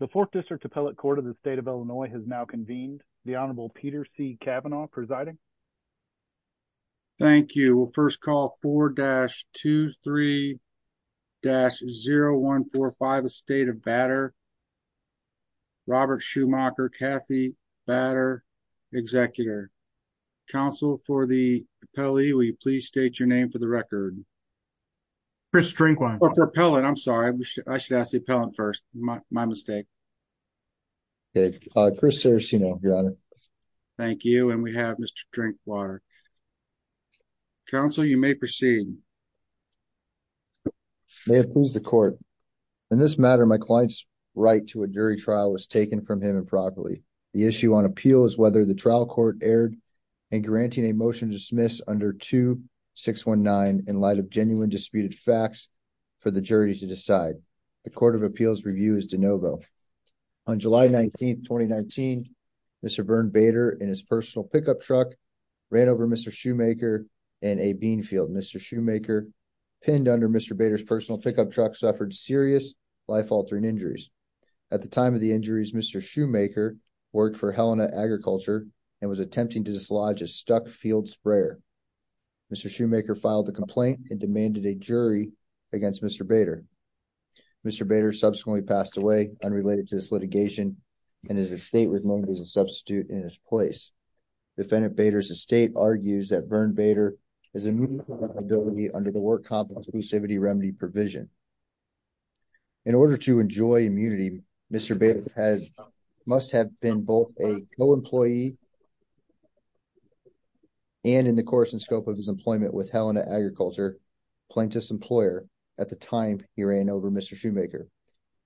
The 4th District Appellate Court of the State of Illinois has now convened. The Honorable Peter C. Kavanaugh presiding. Thank you. We'll first call 4-23-0145, the State of Bader. Robert Schumacher, Kathy Bader, Executor. Counsel for the appellee, will you please state your name for the record? Chris Strinquan. Or for appellant, I'm sorry, I should ask the appellant first, my mistake. Chris Seracino, Your Honor. Thank you, and we have Mr. Strinquan. Counsel you may proceed. May it please the court, in this matter my client's right to a jury trial was taken from him improperly. The issue on appeal is whether the trial court erred in granting a motion to dismiss under 2-619 in light of genuine disputed facts for the jury to decide. The Court of Appeals review is de novo. On July 19, 2019, Mr. Berne Bader and his personal pickup truck ran over Mr. Schumacher in a bean field. Mr. Schumacher, pinned under Mr. Bader's personal pickup truck, suffered serious life-altering injuries. At the time of the injuries, Mr. Schumacher worked for Helena Agriculture and was attempting to dislodge a stuck field sprayer. Mr. Schumacher filed a complaint and demanded a jury trial against Mr. Bader. Mr. Bader subsequently passed away, unrelated to this litigation, and his estate was known as a substitute in his place. Defendant Bader's estate argues that Berne Bader is immune from disability under the Work Complex Exclusivity Remedy provision. In order to enjoy immunity, Mr. Bader must have been both a co-employee and, in the course and scope of his employment with Helena Agriculture, plaintiff's employer at the time he ran over Mr. Schumacher.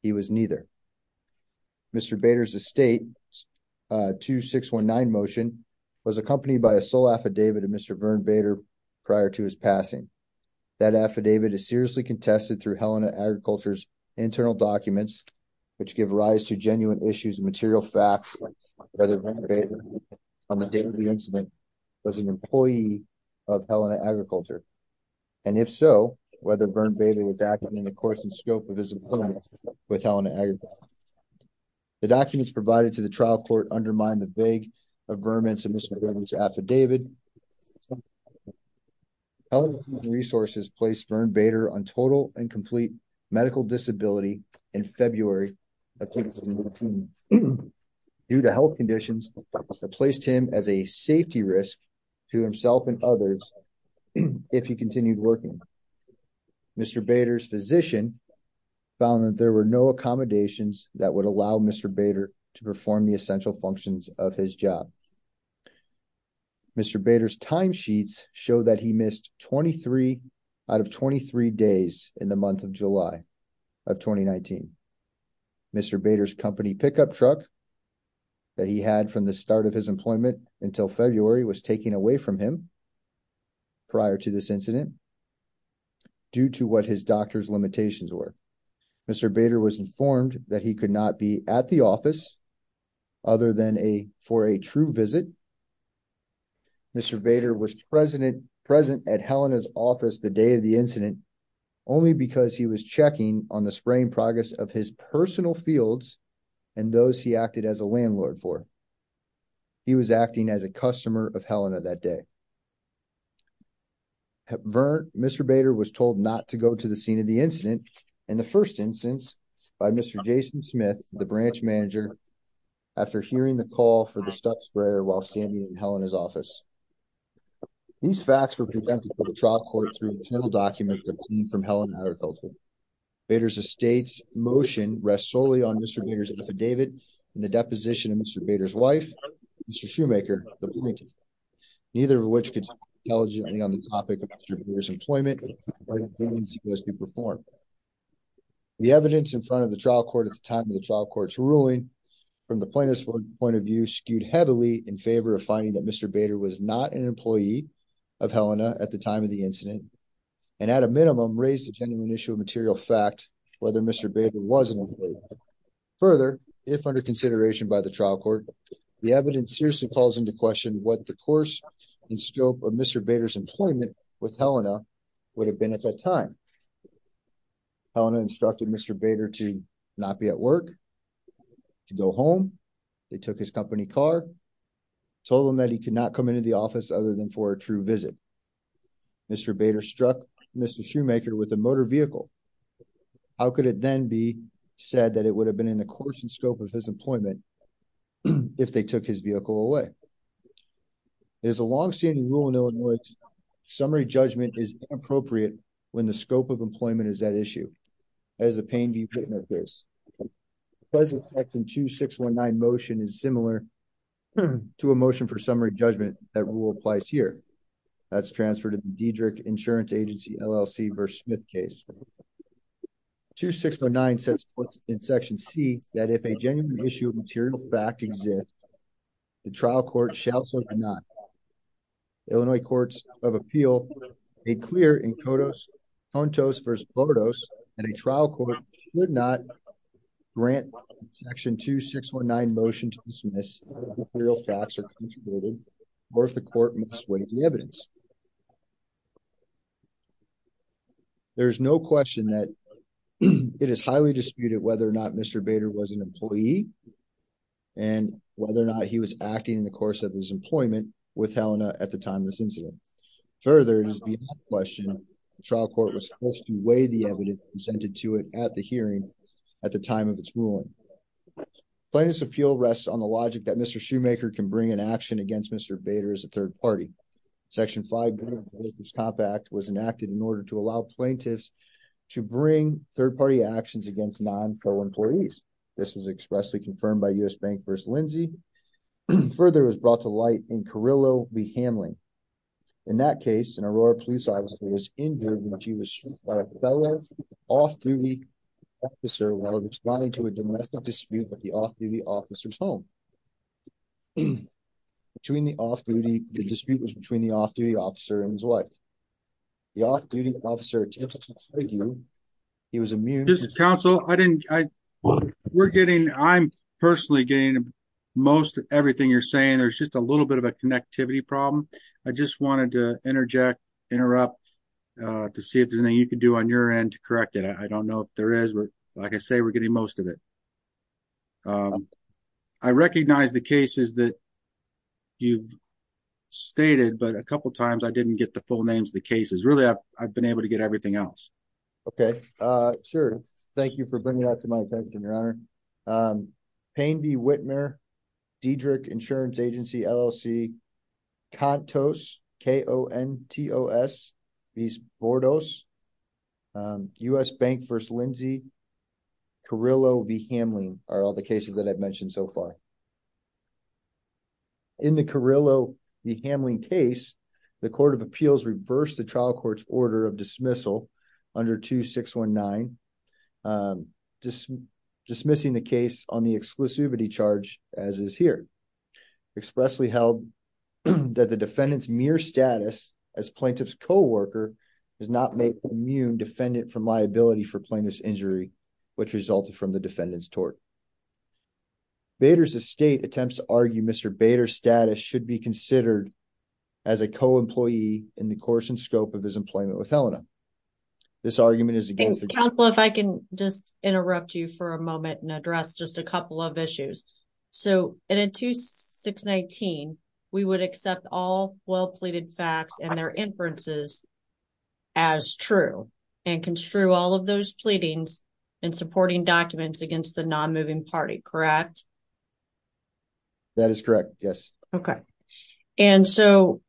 He was neither. Mr. Bader's estate's 2-619 motion was accompanied by a sole affidavit of Mr. Berne Bader prior to his passing. That affidavit is seriously contested through Helena Agriculture's internal documents, which give rise to genuine issues and material facts about whether Berne Bader, on the date of the incident, was an employee of Helena Agriculture, and if so, whether Berne Bader was acting in the course and scope of his employment with Helena Agriculture. The documents provided to the trial court undermine the vague affirmance of Mr. Bader's Elements of the resources placed Berne Bader on total and complete medical disability in February of 2019 due to health conditions that placed him as a safety risk to himself and others if he continued working. Mr. Bader's physician found that there were no accommodations that would allow Mr. Bader to perform the essential functions of his job. Mr. Bader's timesheets show that he missed 23 out of 23 days in the month of July of 2019. Mr. Bader's company pickup truck that he had from the start of his employment until February was taken away from him prior to this incident due to what his doctor's limitations were. Mr. Bader was informed that he could not be at the office for a true visit. Mr. Bader was present at Helena's office the day of the incident only because he was checking on the spraying progress of his personal fields and those he acted as a landlord for. He was acting as a customer of Helena that day. At Berne, Mr. Bader was told not to go to the scene of the incident and the first instance by Mr. Jason Smith, the branch manager, after hearing the call for the stuff sprayer while standing in Helena's office. These facts were presented to the trial court through internal documents obtained from Helena Agricultural. Bader's estate's motion rests solely on Mr. Bader's affidavit and the deposition of Mr. Bader's wife, Mr. Shoemaker, the plaintiff. Neither of which could speak intelligently on the topic of Mr. Bader's employment or the evidence he was to perform. The evidence in front of the trial court at the time of the trial court's ruling, from the plaintiff's point of view, skewed heavily in favor of finding that Mr. Bader was not an employee of Helena at the time of the incident and, at a minimum, raised a genuine issue of material fact whether Mr. Bader was an employee. Further, if under consideration by the trial court, the evidence seriously calls into question what the course and scope of Mr. Bader's employment with Helena would have been at that time. Helena instructed Mr. Bader to not be at work, to go home. They took his company car, told him that he could not come into the office other than for a true visit. Mr. Bader struck Mr. Shoemaker with a motor vehicle. How could it then be said that it would have been in the course and scope of his employment if they took his vehicle away? It is a long-standing rule in Illinois that summary judgment is inappropriate when the scope of employment is at issue, as the Payne v. Pittman case. The present section 2619 motion is similar to a motion for summary judgment that rule applies here. That's transferred to the Diedrich Insurance Agency LLC v. Smith case. Section 2619 sets forth in Section C that if a genuine issue of material fact exists, the trial court shall so deny. The Illinois Courts of Appeal made clear in Contos v. Bordos that a trial court should not grant Section 2619 motion to dismiss if material facts are contributed or if the court must weigh the evidence. There is no question that it is highly disputed whether or not Mr. Bader was an employee and whether or not he was acting in the course of his employment with Helena at the time of this incident. Further, it is beyond question the trial court was supposed to weigh the evidence presented to it at the hearing at the time of its ruling. Plaintiff's appeal rests on the logic that Mr. Shoemaker can bring an action against Mr. Bader as a third party. Section 5 of the Business Compact was enacted in order to allow plaintiffs to bring third party actions against non-FO employees. This was expressly confirmed by U.S. Bank v. Lindsay. Further it was brought to light in Carrillo v. Hamlin. In that case, an Aurora police officer was injured when she was shot by a fellow off-duty officer while responding to a domestic dispute at the off-duty officer's home. The dispute was between the off-duty officer and his wife. The off-duty officer attempted to argue he was immune to the incident. This is counsel. I didn't, we're getting, I'm personally getting most of everything you're saying. There's just a little bit of a connectivity problem. I just wanted to interject, interrupt to see if there's anything you could do on your end to correct it. I don't know if there is, but like I say, we're getting most of it. I recognize the cases that you've stated, but a couple of times I didn't get the full names of the cases. Really, I've been able to get everything else. Okay. Sure. Thank you for bringing that to my attention, Your Honor. Payne v. Whitmer, Diedrich Insurance Agency LLC, Contos, K-O-N-T-O-S v. Bordos, U.S. Bank v. Lindsey, Carrillo v. Hamlin are all the cases that I've mentioned so far. In the Carrillo v. Hamlin case, the Court of Appeals reversed the trial court's order of dismissal under 2619, dismissing the case on the exclusivity charge as is here, expressly held that the defendant's mere status as plaintiff's coworker does not make immune defendant from liability for plaintiff's injury, which resulted from the defendant's tort. Bader's estate attempts to argue Mr. Bader's status should be considered as a co-employee in the course and scope of his employment with Helena. This argument is against the- Counselor, if I can just interrupt you for a moment and address just a couple of issues. So in 2619, we would accept all well-pleaded facts and their inferences as true and construe all of those pleadings in supporting documents against the non-moving party, correct? That is correct, yes. Okay. And so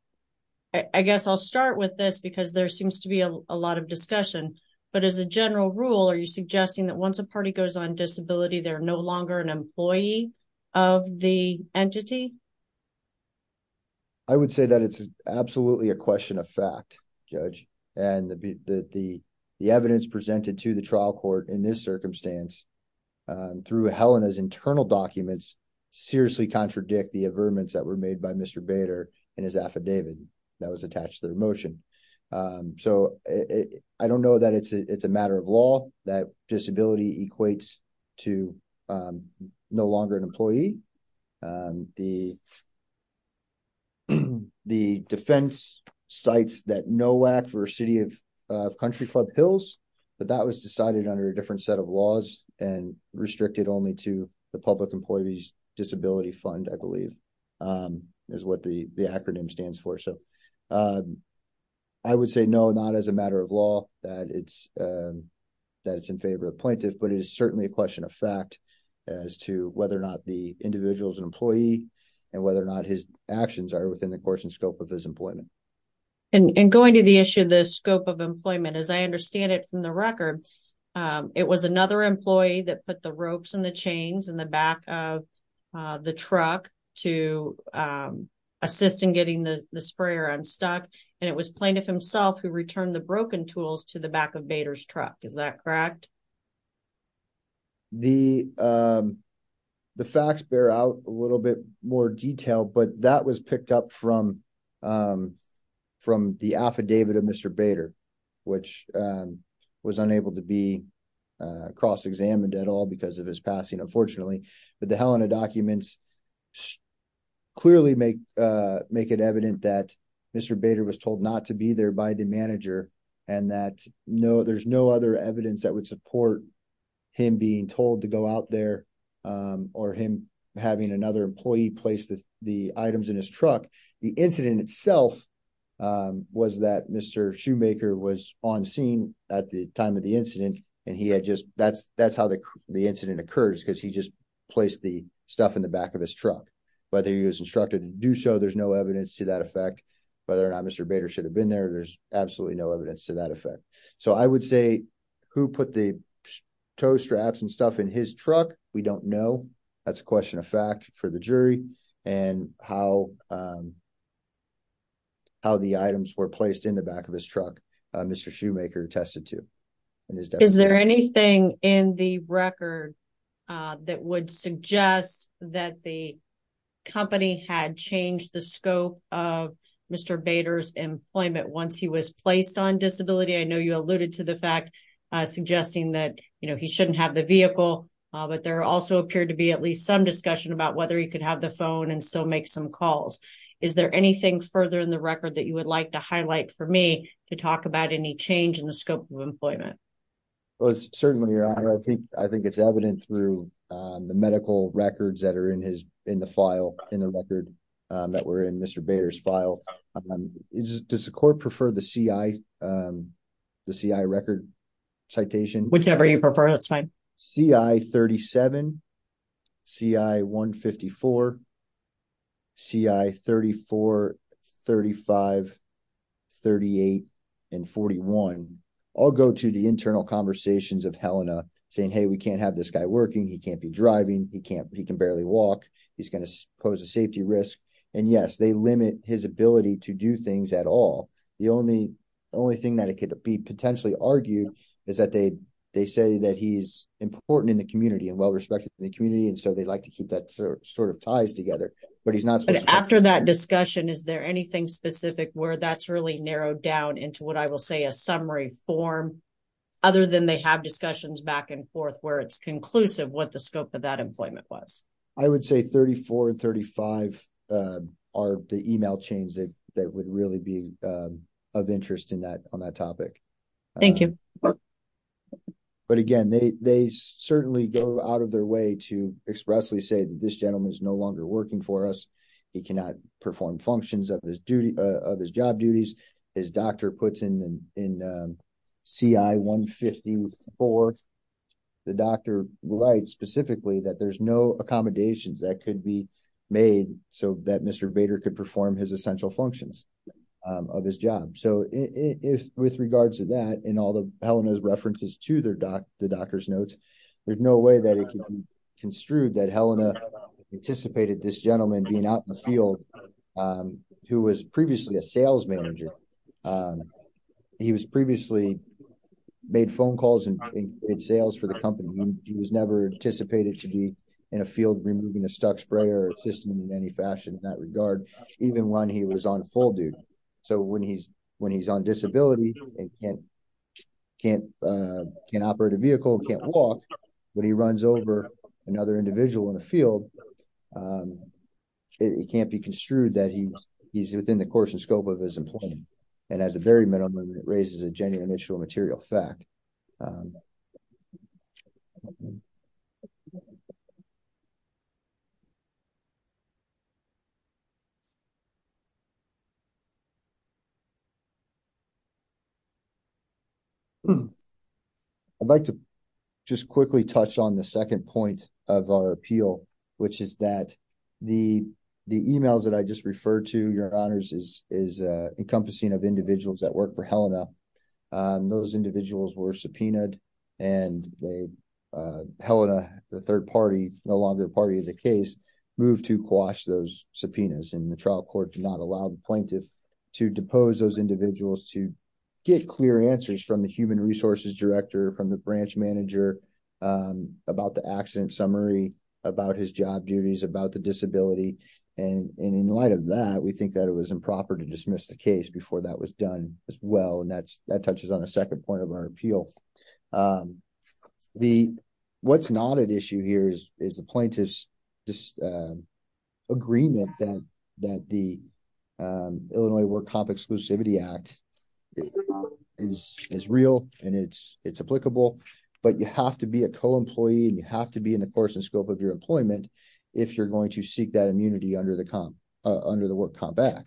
I guess I'll start with this because there seems to be a lot of discussion, but as a general rule, are you suggesting that once a party goes on disability, they're no longer an employee of the entity? I would say that it's absolutely a question of fact, Judge, and the evidence presented to the trial court in this circumstance through Helena's internal documents seriously contradict the averments that were made by Mr. Bader in his affidavit that was attached to their motion. So I don't know that it's a matter of law that disability equates to no longer an employee. The defense cites that NOAC versus City of Country Club Hills, but that was decided under a different set of laws and restricted only to the Public Employees Disability Fund, I believe, is what the acronym stands for. So I would say no, not as a matter of law that it's in favor of plaintiff, but it is a matter of whether the individual is an employee and whether or not his actions are within the course and scope of his employment. And going to the issue of the scope of employment, as I understand it from the record, it was another employee that put the ropes and the chains in the back of the truck to assist in getting the sprayer unstuck, and it was plaintiff himself who returned the broken tools to the back of Bader's truck, is that correct? The facts bear out a little bit more detail, but that was picked up from the affidavit of Mr. Bader, which was unable to be cross-examined at all because of his passing, unfortunately. But the Helena documents clearly make it evident that Mr. Bader was told not to be there by the manager and that there's no other evidence that would support him being told to go out there or him having another employee place the items in his truck. The incident itself was that Mr. Shoemaker was on scene at the time of the incident, and that's how the incident occurs, because he just placed the stuff in the back of his truck. Whether he was instructed to do so, there's no evidence to that effect. Whether or not Mr. Bader should have been there, there's absolutely no evidence to that effect. So I would say who put the toe straps and stuff in his truck, we don't know. That's a question of fact for the jury, and how the items were placed in the back of his truck, Mr. Shoemaker attested to. Is there anything in the record that would suggest that the company had changed the scope of Mr. Bader's employment once he was placed on disability? I know you alluded to the fact suggesting that he shouldn't have the vehicle, but there also appeared to be at least some discussion about whether he could have the phone and still make some calls. Is there anything further in the record that you would like to highlight for me to talk about any change in the scope of employment? Well, certainly, Your Honor, I think it's evident through the medical records that are in the file, in the record that were in Mr. Bader's file. Does the court prefer the CI record citation? Whichever you prefer, that's fine. CI-37, CI-154, CI-34, 35, 38, and 41 all go to the internal conversations of Helena saying, hey, we can't have this guy working, he can't be driving, he can barely walk, he's going to pose a safety risk, and yes, they limit his ability to do things at all. The only thing that it could be potentially argued is that they say that he's important in the community and well-respected in the community, and so they like to keep that sort of ties together, but he's not supposed to. After that discussion, is there anything specific where that's really narrowed down into what then they have discussions back and forth where it's conclusive what the scope of that employment was? I would say 34 and 35 are the email chains that would really be of interest on that topic. Thank you. But again, they certainly go out of their way to expressly say that this gentleman is no longer working for us, he cannot perform functions of his job duties, his doctor puts it in CI-150-4, the doctor writes specifically that there's no accommodations that could be made so that Mr. Bader could perform his essential functions of his job. So with regards to that and all of Helena's references to the doctor's notes, there's no way that it can be construed that Helena anticipated this gentleman being out in the He was previously made phone calls and did sales for the company, he was never anticipated to be in a field removing a stuck sprayer system in any fashion in that regard, even when he was on full duty. So when he's on disability and can't operate a vehicle, can't walk, when he runs over another individual in a field, it can't be construed that he's within the course and scope of his employment. And at the very minimum, it raises a genuine issue of material fact. I'd like to just quickly touch on the second point of our appeal, which is that the emails that I just referred to, Your Honors, is encompassing of individuals that work for Helena. Those individuals were subpoenaed and Helena, the third party, no longer party of the case, moved to quash those subpoenas and the trial court did not allow the plaintiff to depose those individuals to get clear answers from the human resources director, from the branch And in light of that, we think that it was improper to dismiss the case before that was done as well. And that touches on a second point of our appeal. What's not at issue here is the plaintiff's agreement that the Illinois Work Comp Exclusivity Act is real and it's applicable, but you have to be a co-employee and you have to be in compliance with the course and scope of your employment if you're going to seek that immunity under the Work Comp Act.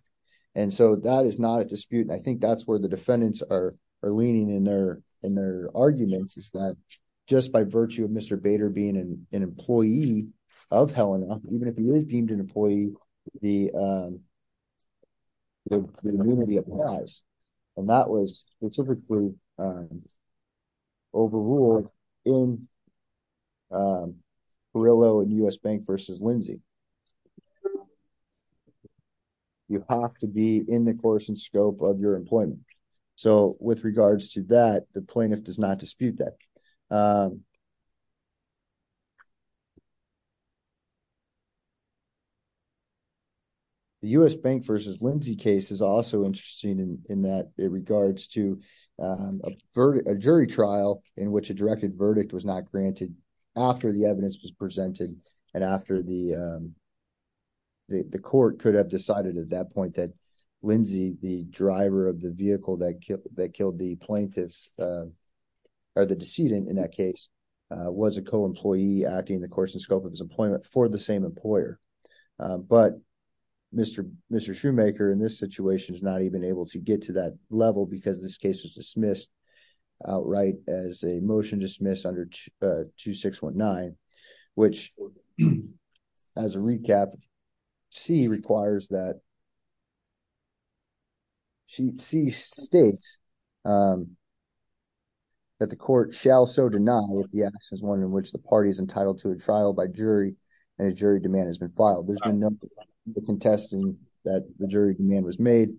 And so that is not a dispute. I think that's where the defendants are leaning in their arguments, is that just by virtue of Mr. Bader being an employee of Helena, even if he is deemed an employee, the immunity applies. And that was specifically overruled in Carrillo and U.S. Bank v. Lindsay. You have to be in the course and scope of your employment. So with regards to that, the plaintiff does not dispute that. The U.S. Bank v. Lindsay case is also interesting in that it regards to a jury trial in which a directed verdict was not granted after the evidence was presented and after the court could have decided at that point that Lindsay, the driver of the vehicle that killed the decedent in that case, was a co-employee acting in the course and scope of his employment for the same employer. But Mr. Shoemaker in this situation is not even able to get to that level because this case was dismissed outright as a motion dismissed under 2619, which as a recap, C states that the court shall so deny if the action is one in which the party is entitled to a trial by jury and a jury demand has been filed. There's been no contesting that the jury demand was made.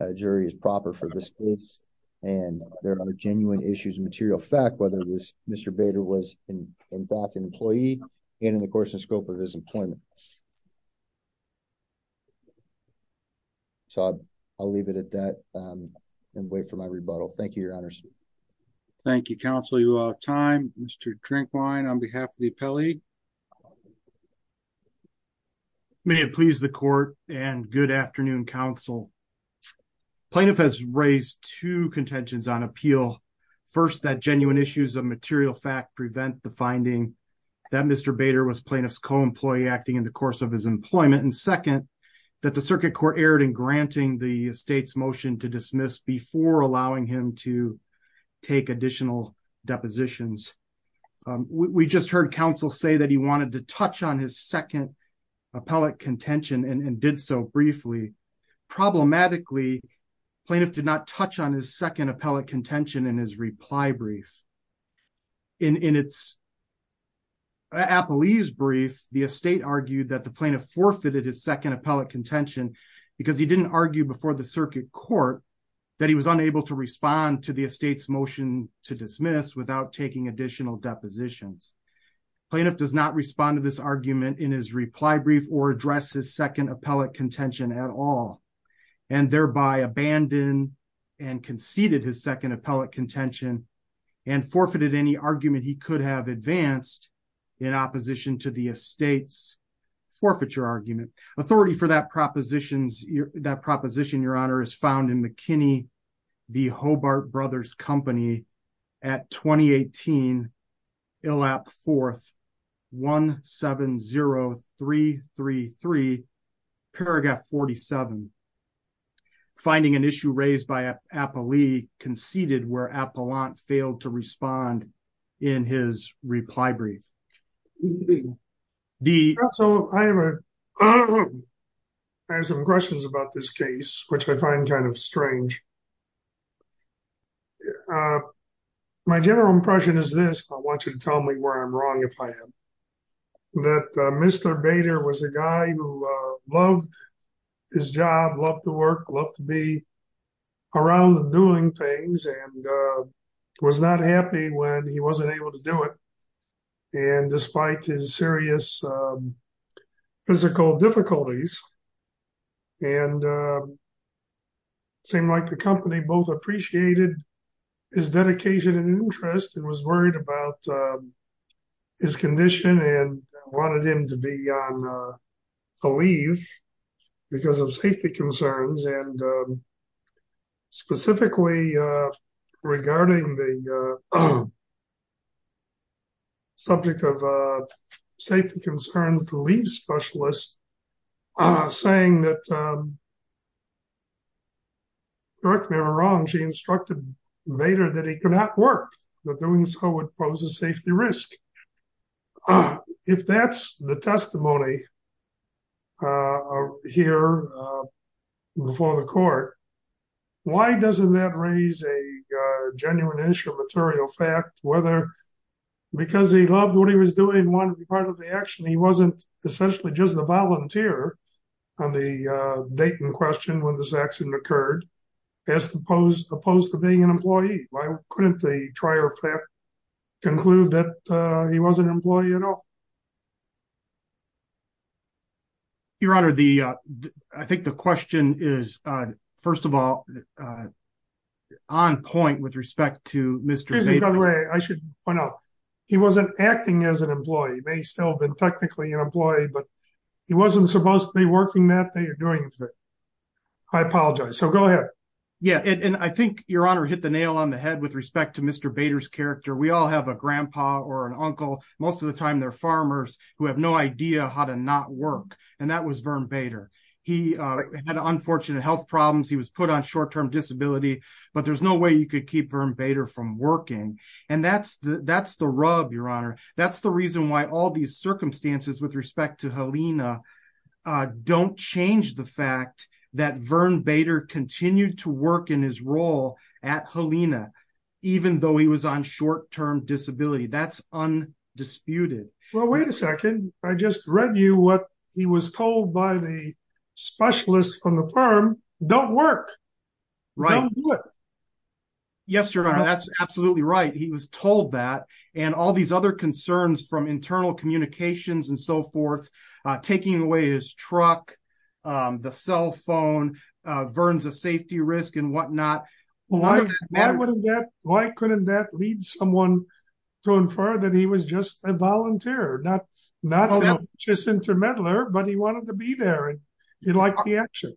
A jury is proper for this case. And there are genuine issues of material fact, whether this Mr. Bader was in fact an employee and in the course and scope of his employment. So I'll leave it at that and wait for my rebuttal. Thank you, Your Honor. Thank you, counsel. You are out of time. Mr. Drinkwine, on behalf of the appellee. May it please the court and good afternoon, counsel. Plaintiff has raised two contentions on appeal. First, that genuine issues of material fact prevent the finding that Mr. Bader was plaintiff's co-employee acting in the course of his employment. And second, that the circuit court erred in granting the state's motion to dismiss before allowing him to take additional depositions. We just heard counsel say that he wanted to touch on his second appellate contention and did so briefly. Problematically, plaintiff did not touch on his second appellate contention in his reply brief. In its appellee's brief, the estate argued that the plaintiff forfeited his second appellate contention because he didn't argue before the circuit court that he was unable to respond to the estate's motion to dismiss without taking additional depositions. Plaintiff does not respond to this argument in his reply brief or address his second appellate contention at all and thereby abandoned and conceded his second appellate contention and forfeited any argument he could have advanced in opposition to the estate's forfeiture argument. Authority for that proposition, your honor, is found in McKinney v. Hobart Brothers Company at 2018, Illap 4th, 170333, paragraph 47. Finding an issue raised by appellee conceded where appellant failed to respond in his reply brief. So I have some questions about this case, which I find kind of strange. My general impression is this, I want you to tell me where I'm wrong if I am, that Mr. Bader was a guy who loved his job, loved to work, loved to be around and doing things and was not happy when he wasn't able to do it. And despite his serious physical difficulties and seemed like the company both appreciated his dedication and interest and was worried about his condition and wanted him to be on Regarding the subject of safety concerns, the leave specialist saying that, correct me if I'm wrong, she instructed Bader that he could not work, that doing so would pose a safety risk. If that's the testimony here before the court, why doesn't that raise a genuine issue of material fact, whether because he loved what he was doing and wanted to be part of the action, he wasn't essentially just a volunteer on the Dayton question when this accident occurred, as opposed to being an employee. Why couldn't they try to conclude that he was an employee at all? Your Honor, I think the question is, first of all, on point with respect to Mr. Bader. By the way, I should point out, he wasn't acting as an employee. He may still have been technically an employee, but he wasn't supposed to be working that day or doing that. I apologize. So go ahead. And I think, Your Honor, hit the nail on the head with respect to Mr. Bader's character. We all have a grandpa or an uncle. Most of the time, they're farmers who have no idea how to not work. And that was Vern Bader. He had unfortunate health problems. He was put on short-term disability. But there's no way you could keep Vern Bader from working. And that's the rub, Your Honor. That's the reason why all these circumstances with respect to Helena don't change the fact that Vern Bader continued to work in his role at Helena, even though he was on short-term disability. That's undisputed. Well, wait a second. I just read you what he was told by the specialist from the firm. Don't work. Right. Don't do it. Yes, Your Honor. That's absolutely right. He was told that. And all these other concerns from internal communications and so forth, taking away his truck, the cell phone, Vern's a safety risk and whatnot. Why couldn't that lead someone to infer that he was just a volunteer? Not just a meddler, but he wanted to be there. He liked the action.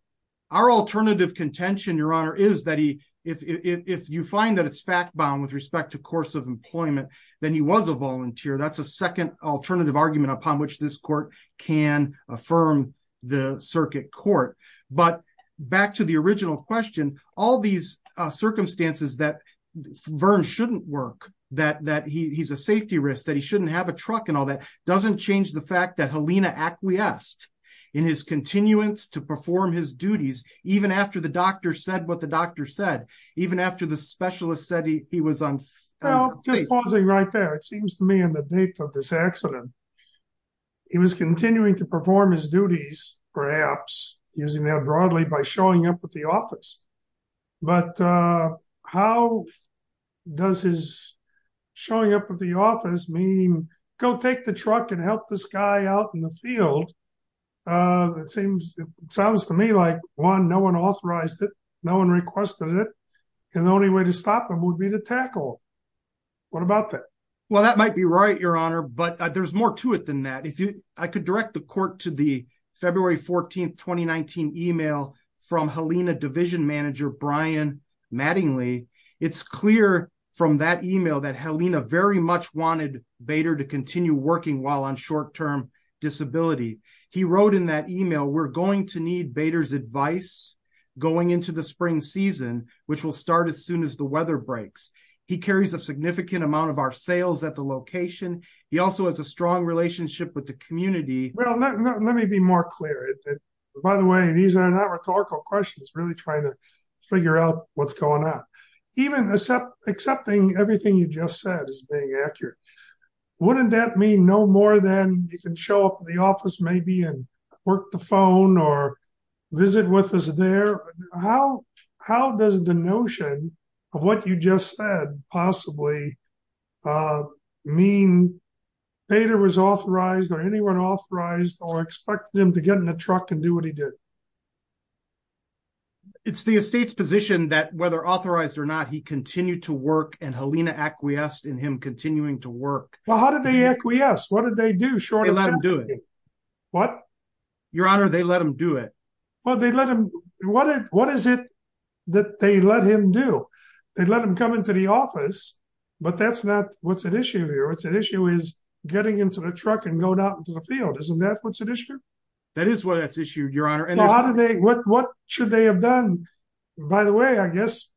Our alternative contention, Your Honor, is that if you find that it's fact-bound with respect to course of employment, then he was a volunteer. That's a second alternative argument upon which this court can affirm the circuit court. But back to the original question, all these circumstances that Vern shouldn't work, that he's a safety risk, that he even after the doctor said what the doctor said, even after the specialist said he was on. Well, just pausing right there, it seems to me on the date of this accident, he was continuing to perform his duties, perhaps, using that broadly by showing up at the office. But how does his showing up at the office mean go take the truck and help this guy out in the field? It sounds to me like, one, no one authorized it. No one requested it. And the only way to stop him would be to tackle him. What about that? Well, that might be right, Your Honor. But there's more to it than that. I could direct the court to the February 14, 2019, email from Helena Division Manager Brian Mattingly. It's clear from that email that Helena very much wanted Bader to continue working while on short-term disability. He wrote in that email, we're going to need Bader's advice going into the spring season, which will start as soon as the weather breaks. He carries a significant amount of our sales at the location. He also has a strong relationship with the community. Well, let me be more clear. By the way, these are not rhetorical questions, really trying to figure out what's going on. Even accepting everything you just said as being accurate, wouldn't that mean no more than you can show up at the office maybe and work the phone or visit with us there? How does the notion of what you just said possibly mean Bader was authorized or anyone authorized or expected him to get in a truck and do what he did? It's the estate's position that whether authorized or not, he continued to work and Helena acquiesced in him continuing to work. Well, how did they acquiesce? What did they do short of that? They let him do it. What? Your Honor, they let him do it. Well, they let him. What is it that they let him do? They let him come into the office, but that's not what's at issue here. What's at issue is getting into the truck and going out into the field. Isn't that what's at issue? That is what's at issue, Your Honor. What should they have done? By the way, I guess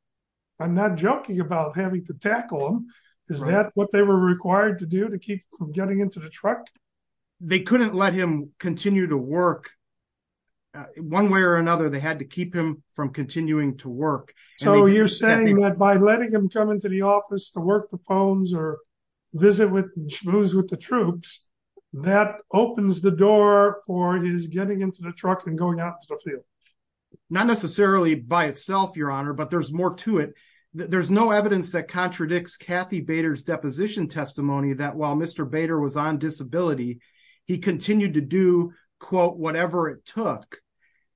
I'm not joking about having to tackle him. Is that what they were required to do to keep from getting into the truck? They couldn't let him continue to work. One way or another, they had to keep him from continuing to work. So you're saying that by letting him come into the office to work the phones or visit with the troops, that opens the door for his getting into the truck and going out into the field? Not necessarily by itself, Your Honor, but there's more to it. There's no evidence that contradicts Kathy Bader's deposition testimony that while Mr. Bader was on disability, he continued to do, quote, whatever it took.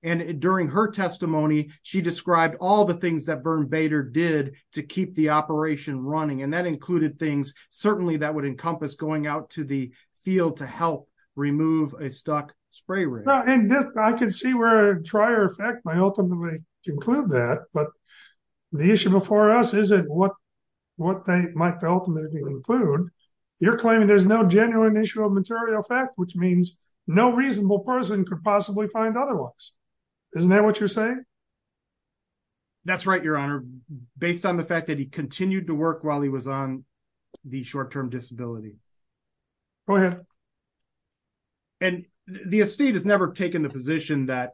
And during her testimony, she described all the things that Vern Bader did to keep the operation running. And that included things certainly that would encompass going out to the field to help remove a stuck spray rig. I can see where trier effect might ultimately conclude that, but the issue before us isn't what they might ultimately conclude. You're claiming there's no genuine issue of material fact, which means no reasonable person could possibly find otherwise. Isn't that what you're saying? That's right, Your Honor, based on the fact that he continued to work while he was on the short term disability. Go ahead. And the estate has never taken the position that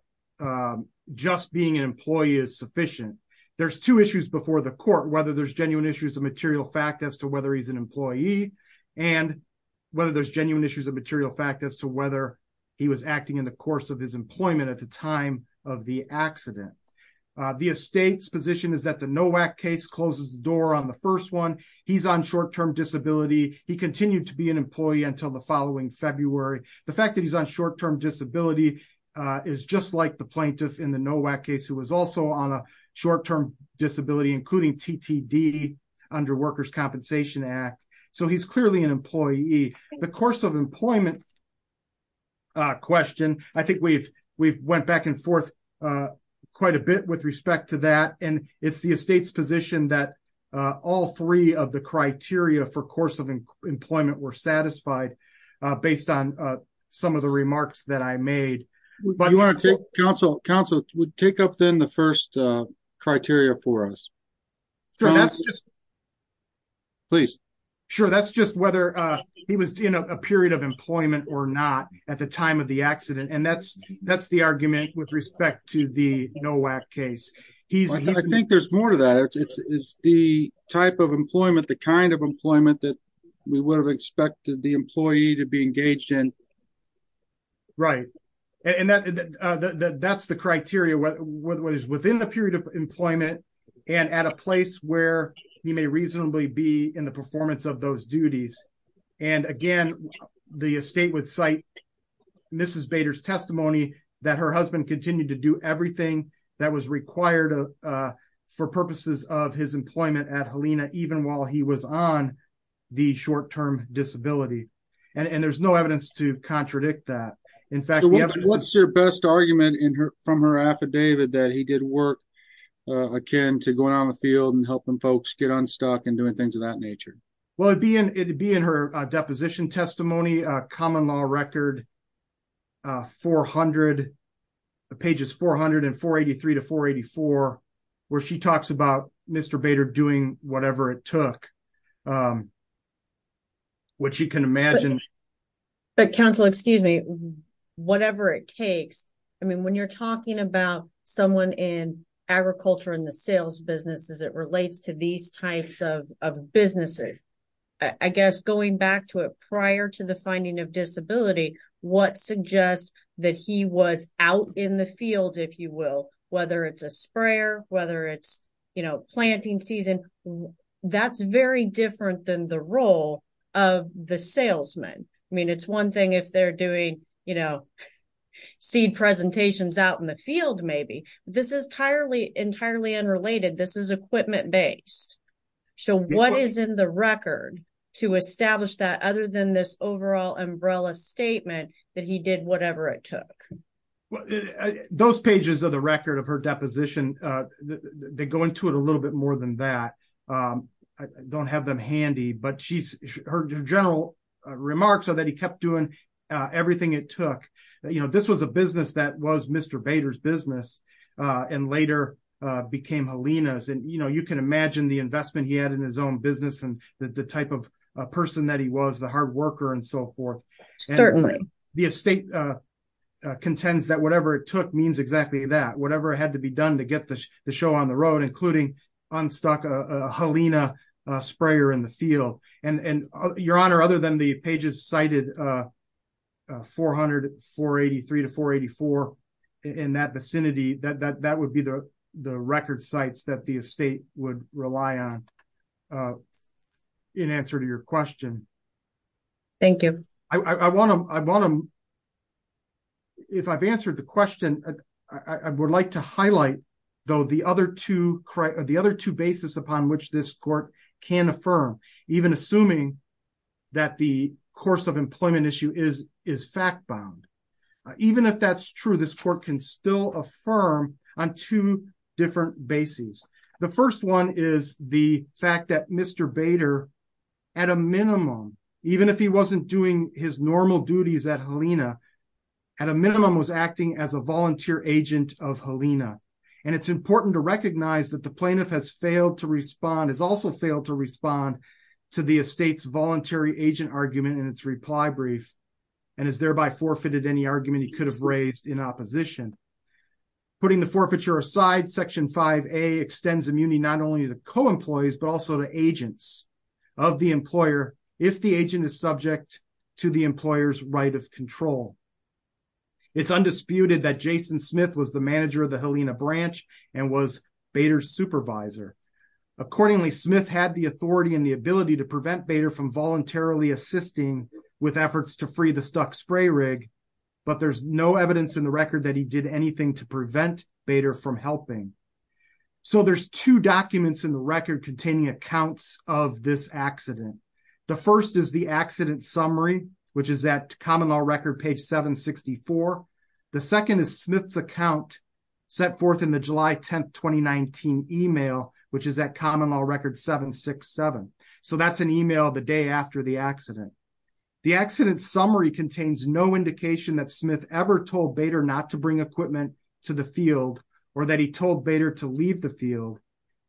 just being an employee is sufficient. There's two issues before the court, whether there's genuine issues of material fact as to whether he's an employee and whether there's genuine issues of material fact as to whether he was acting in the course of his employment at the time of the accident. The estate's position is that the NOAC case closes the door on the first one. He's on short term disability. He continued to be an employee until the following February. The fact that he's on short term disability is just like the plaintiff in the NOAC case who was also on a short term disability, including TTD under Workers' Compensation Act. So he's clearly an employee. The course of employment question, I think we've we've went back and forth quite a bit with respect to that. And it's the estate's position that all three of the criteria for course of employment were satisfied based on some of the remarks that I made. But you want to take counsel counsel would take up then the first criteria for us. Please. Sure. That's just whether he was in a period of employment or not at the time of the accident. And that's that's the argument with respect to the NOAC case. He's I think there's more to that. It's the type of employment, the kind of employment that we would have expected the employee to be engaged in. Right. And that's the criteria whether it was within the period of employment and at a place where he may reasonably be in the performance of those duties. And again, the estate would cite Mrs. Bader's testimony that her husband continued to do everything that was required for purposes of his employment at Helena, even while he was on the short term disability. And there's no evidence to contradict that. In fact, what's your best argument in her from her affidavit that he did work again to going on the field and helping folks get unstuck and doing things of that nature. Well, it'd be in it'd be in her deposition testimony common law record 400 pages 483 to 484, where she talks about Mr. Bader doing whatever it took. What you can imagine. But counsel, excuse me, whatever it takes. I mean, when you're talking about someone in agriculture in the sales businesses, it relates to these types of businesses. I guess going back to a prior to the finding of disability, what suggests that he was out in the field, if you will, whether it's a sprayer, whether it's, you know, planting season. That's very different than the role of the salesman. I mean, it's one thing if they're doing, you know, seed presentations out in the field, maybe this is entirely entirely unrelated this is equipment based. So what is in the record to establish that other than this overall umbrella statement that he did whatever it took those pages of the record of her deposition. They go into it a little bit more than that. I don't have them handy but she's her general remarks are that he kept doing everything it took you know this was a business that was Mr. Bader's business, and later became Helena's and you know you can imagine the investment he had in his own business and the road including unstuck Helena sprayer in the field, and your honor other than the pages cited 443 to 484 in that vicinity that that would be the record sites that the estate would rely on. In answer to your question. Thank you. I want to, I want to. If I've answered the question, I would like to highlight, though the other two, the other two basis upon which this court can affirm, even assuming that the course of employment issue is is fact bound. Even if that's true this court can still affirm on two different bases. The first one is the fact that Mr Bader, at a minimum, even if he wasn't doing his normal duties at Helena, at a minimum was acting as a volunteer agent of Helena, and it's important to recognize that the plaintiff has failed to respond has also failed to respond to the estate's voluntary agent argument and its reply brief, and is thereby forfeited any argument he could have raised in opposition, putting the forfeiture aside section five a extends immunity not only the CO employees but also the agents of the employer. If the agent is subject to the employers right of control. It's undisputed that Jason Smith was the manager of the Helena branch, and was better supervisor. Accordingly, Smith had the authority and the ability to prevent better from voluntarily assisting with efforts to free the stuck spray rig. But there's no evidence in the record that he did anything to prevent better from helping. So there's two documents in the record containing accounts of this accident. The first is the accident summary, which is that common law record page 764. The second is Smith's account set forth in the July 10 2019 email, which is that common law record 767. So that's an email the day after the accident. The accident summary contains no indication that Smith ever told better not to bring equipment to the field, or that he told better to leave the field.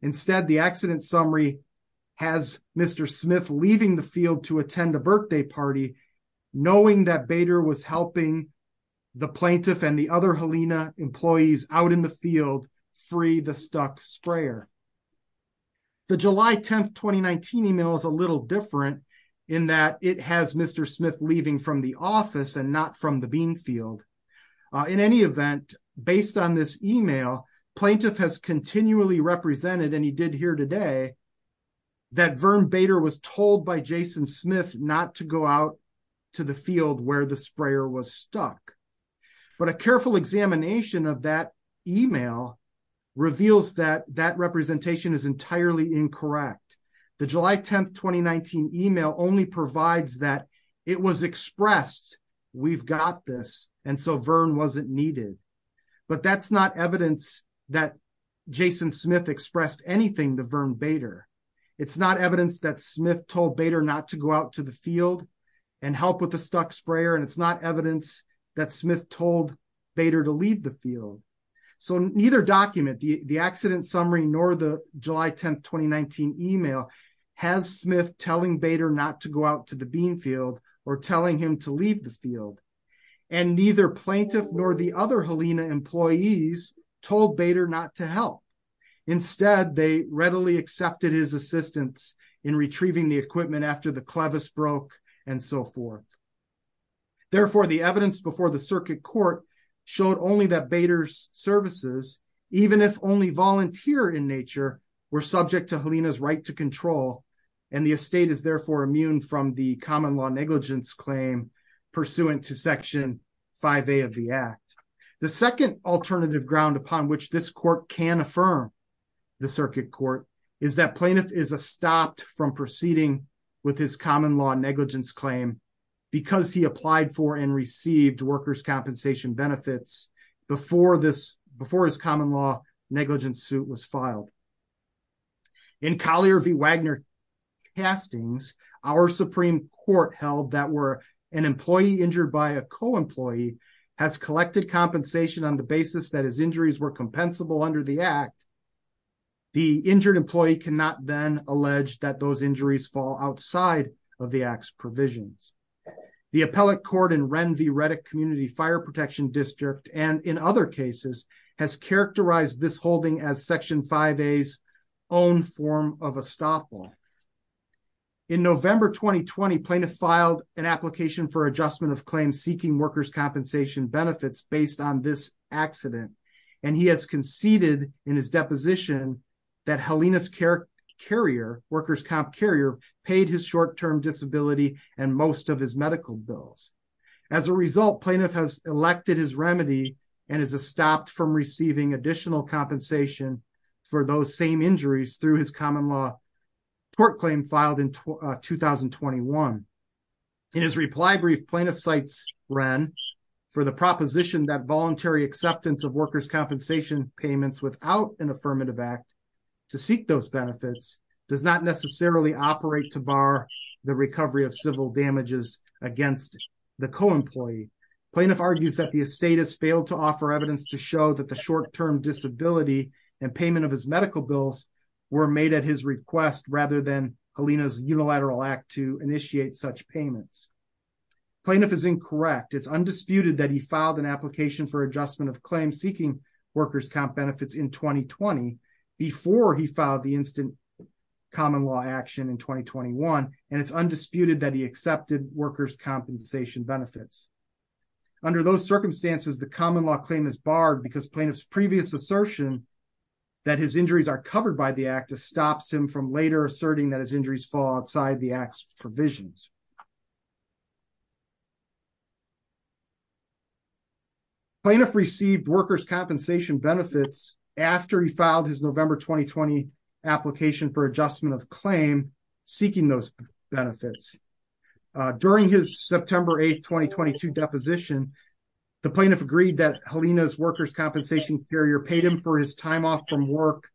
Instead, the accident summary has Mr. Smith leaving the field to attend a birthday party, knowing that better was helping the plaintiff and the other Helena employees out in the field, free the stuck sprayer. The July 10 2019 email is a little different in that it has Mr. Smith leaving from the office and not from the bean field. In any event, based on this email plaintiff has continually represented and he did here today that Vern Bader was told by Jason Smith not to go out to the field where the sprayer was stuck. But a careful examination of that email reveals that that representation is entirely incorrect. The July 10 2019 email only provides that it was expressed, we've got this, and so Vern wasn't needed. But that's not evidence that Jason Smith expressed anything to Vern Bader. It's not evidence that Smith told better not to go out to the field and help with the stuck sprayer and it's not evidence that Smith told better to leave the field. So neither document the accident summary nor the July 10 2019 email has Smith telling better not to go out to the bean field, or telling him to leave the field, and neither plaintiff nor the other Helena employees told better not to help. Instead, they readily accepted his assistance in retrieving the equipment after the clevis broke, and so forth. Therefore, the evidence before the circuit court showed only that Bader's services, even if only volunteer in nature, were subject to Helena's right to control, and the estate is therefore immune from the common law negligence claim, pursuant to section five a of the Act. The second alternative ground upon which this court can affirm the circuit court is that plaintiff is a stopped from proceeding with his common law negligence claim, because he applied for and received workers compensation benefits before this before his common law negligence suit was filed. In Collier v. Wagner castings, our Supreme Court held that were an employee injured by a co-employee has collected compensation on the basis that his injuries were compensable under the Act. The injured employee cannot then allege that those injuries fall outside of the acts provisions. The appellate court and Ren v. Reddick Community Fire Protection District, and in other cases, has characterized this holding as section five A's own form of a stop on in November 2020 plaintiff filed an application for adjustment of claims seeking workers compensation benefits based on this accident, and he has conceded in his deposition that Helena's care carrier workers comp carrier paid his short term disability, and most of his medical bills. As a result plaintiff has elected his remedy, and is a stopped from receiving additional compensation for those same injuries through his common law court claim filed in 2021. In his reply brief plaintiff sites, Ren for the proposition that voluntary acceptance of workers compensation payments without an affirmative act to seek those benefits does not necessarily operate to bar the recovery of civil damages against the co plaintiff argues that the estate has failed to offer evidence to show that the short term disability and payment of his medical bills were made at his request rather than Helena's unilateral act to initiate such payments plaintiff is incorrect it's undisputed that he filed an application for adjustment of claim seeking workers comp benefits in 2020 before he filed the instant common law action in 2021, and it's undisputed that he accepted workers compensation benefits. Under those circumstances, the common law claim is barred because plaintiff's previous assertion that his injuries are covered by the act of stops him from later asserting that his injuries fall outside the acts provisions plaintiff received workers compensation benefits. After he filed his November 2020 application for adjustment of claim, seeking those benefits. During his September 8 2022 deposition. The plaintiff agreed that Helena's workers compensation carrier paid him for his time off from work,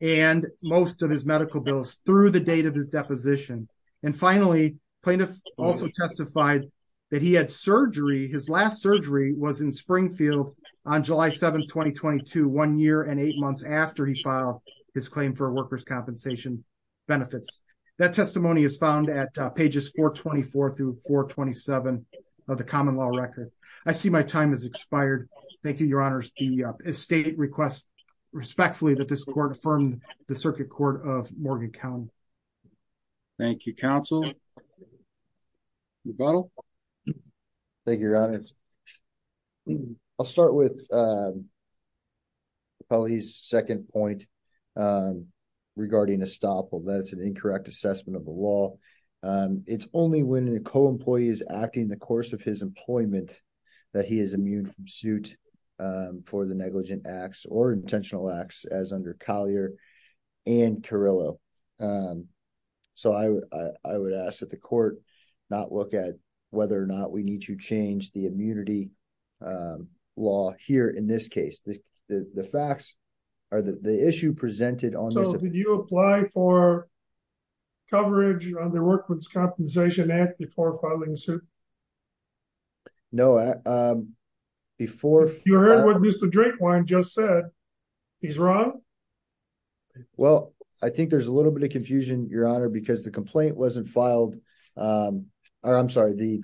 and most of his medical bills through the date of his deposition. And finally, plaintiff also testified that he had surgery his last surgery was in Springfield on July 7 2022 one year and eight months after he filed his claim for workers compensation benefits. That testimony is found at pages 424 through 427 of the common law record. I see my time has expired. Thank you, Your Honor, the state requests, respectfully that this court from the circuit court of Morgan County. Thank you counsel. Thank you. I'll start with police second point. Regarding a stop or that it's an incorrect assessment of the law. It's only when a co employees acting the course of his employment, that he is immune from suit for the negligent acts or intentional acts as under Collier and Carillo. So I would, I would ask that the court, not look at whether or not we need to change the immunity law here in this case, the facts are the issue presented on the new apply for coverage on the workman's compensation act before filing suit. No. Before you're used to drink wine just said he's wrong. Well, I think there's a little bit of confusion, Your Honor, because the complaint wasn't filed. I'm sorry the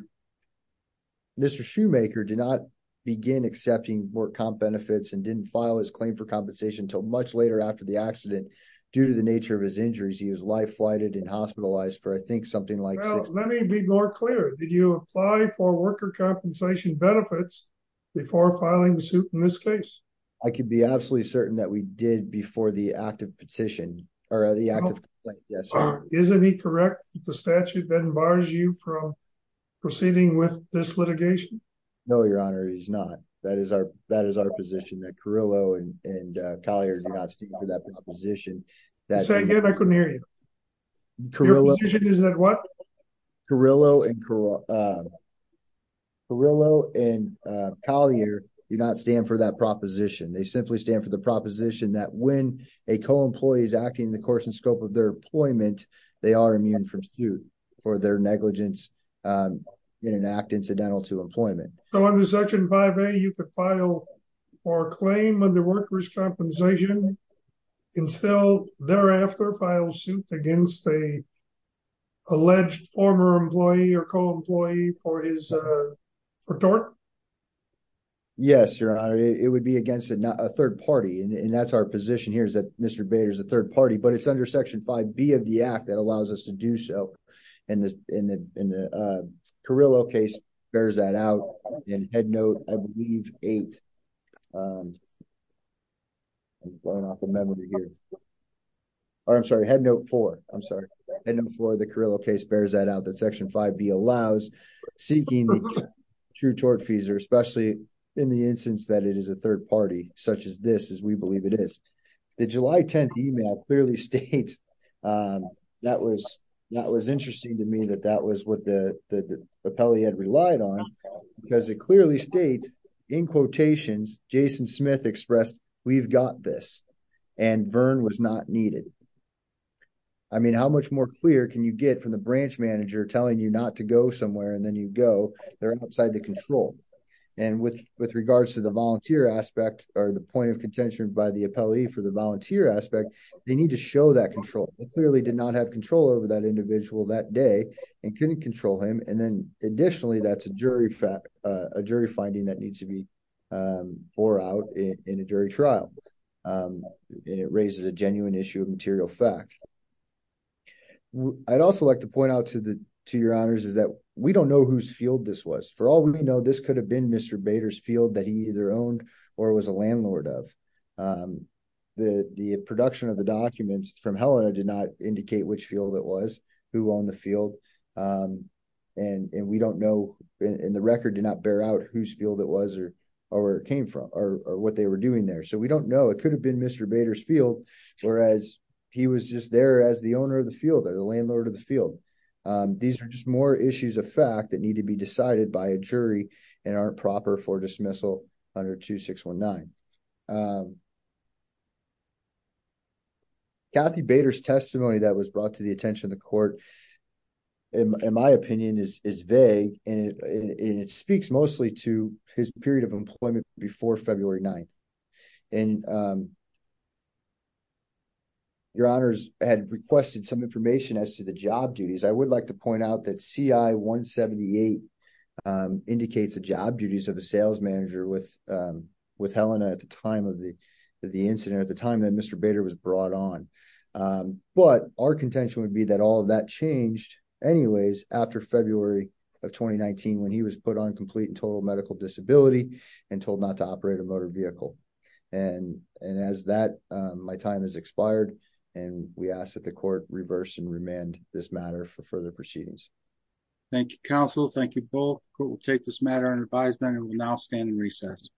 Mr shoemaker did not begin accepting more comp benefits and didn't file his claim for compensation until much later after the accident. Due to the nature of his injuries he was life flighted and hospitalized for I think something like, let me be more clear, did you apply for worker compensation benefits before filing suit in this case, I can be absolutely certain that we did before the active petition, or the active. Yes. Isn't he correct, the statute then bars you from proceeding with this litigation. No, Your Honor, he's not. That is our, that is our position that Carillo and Collier do not stand for that position. Say again I couldn't hear you. Is that what Carillo and Carillo and Collier, do not stand for that proposition they simply stand for the proposition that when a co employees acting the course and scope of their employment, they are immune from suit for their negligence. In an act incidental to employment section five a you could file for claim of the workers compensation. Until thereafter file suit against a alleged former employee or co employee for his for dark. Yes, Your Honor, it would be against it not a third party and that's our position here is that Mr Bader is a third party but it's under section five be of the act that allows us to do so. And in the Carillo case bears that out in head note, I believe, eight memory here. I'm sorry headnote for, I'm sorry, I know for the Carillo case bears that out that section five be allows seeking true tort fees are especially in the instance that it is a third party, such as this as we believe it is the July 10 email clearly states. That was, that was interesting to me that that was what the appellee had relied on, because it clearly states in quotations, Jason Smith expressed, we've got this. And Vern was not needed. I mean how much more clear can you get from the branch manager telling you not to go somewhere and then you go there outside the control. And with, with regards to the volunteer aspect, or the point of contention by the appellee for the volunteer aspect, they need to show that control, it clearly did not have control over that individual that day, and couldn't control him and then additionally that's a jury fact, a jury finding that needs to be for out in a jury trial. It raises a genuine issue of material fact. I'd also like to point out to the to your honors is that we don't know whose field this was for all we know this could have been Mr. The, the production of the documents from Helena did not indicate which field it was who on the field. And we don't know in the record did not bear out whose field it was or, or came from, or what they were doing there so we don't know it could have been Mr. Whereas he was just there as the owner of the field or the landlord of the field. These are just more issues of fact that need to be decided by a jury and are proper for dismissal under 2619 Kathy Bader's testimony that was brought to the attention of the court. In my opinion is vague, and it speaks mostly to his period of employment before February 9. And your honors had requested some information as to the job duties I would like to point out that ci 178 indicates the job duties of a sales manager with with Helena at the time. At the time of the, the incident at the time that Mr Bader was brought on. But our contention would be that all that changed. Anyways, after February of 2019 when he was put on complete and total medical disability and told not to operate a motor vehicle. And, and as that my time has expired. And we asked that the court reverse and remand this matter for further proceedings. Thank you counsel thank you both will take this matter and advisement and will now stand in recess.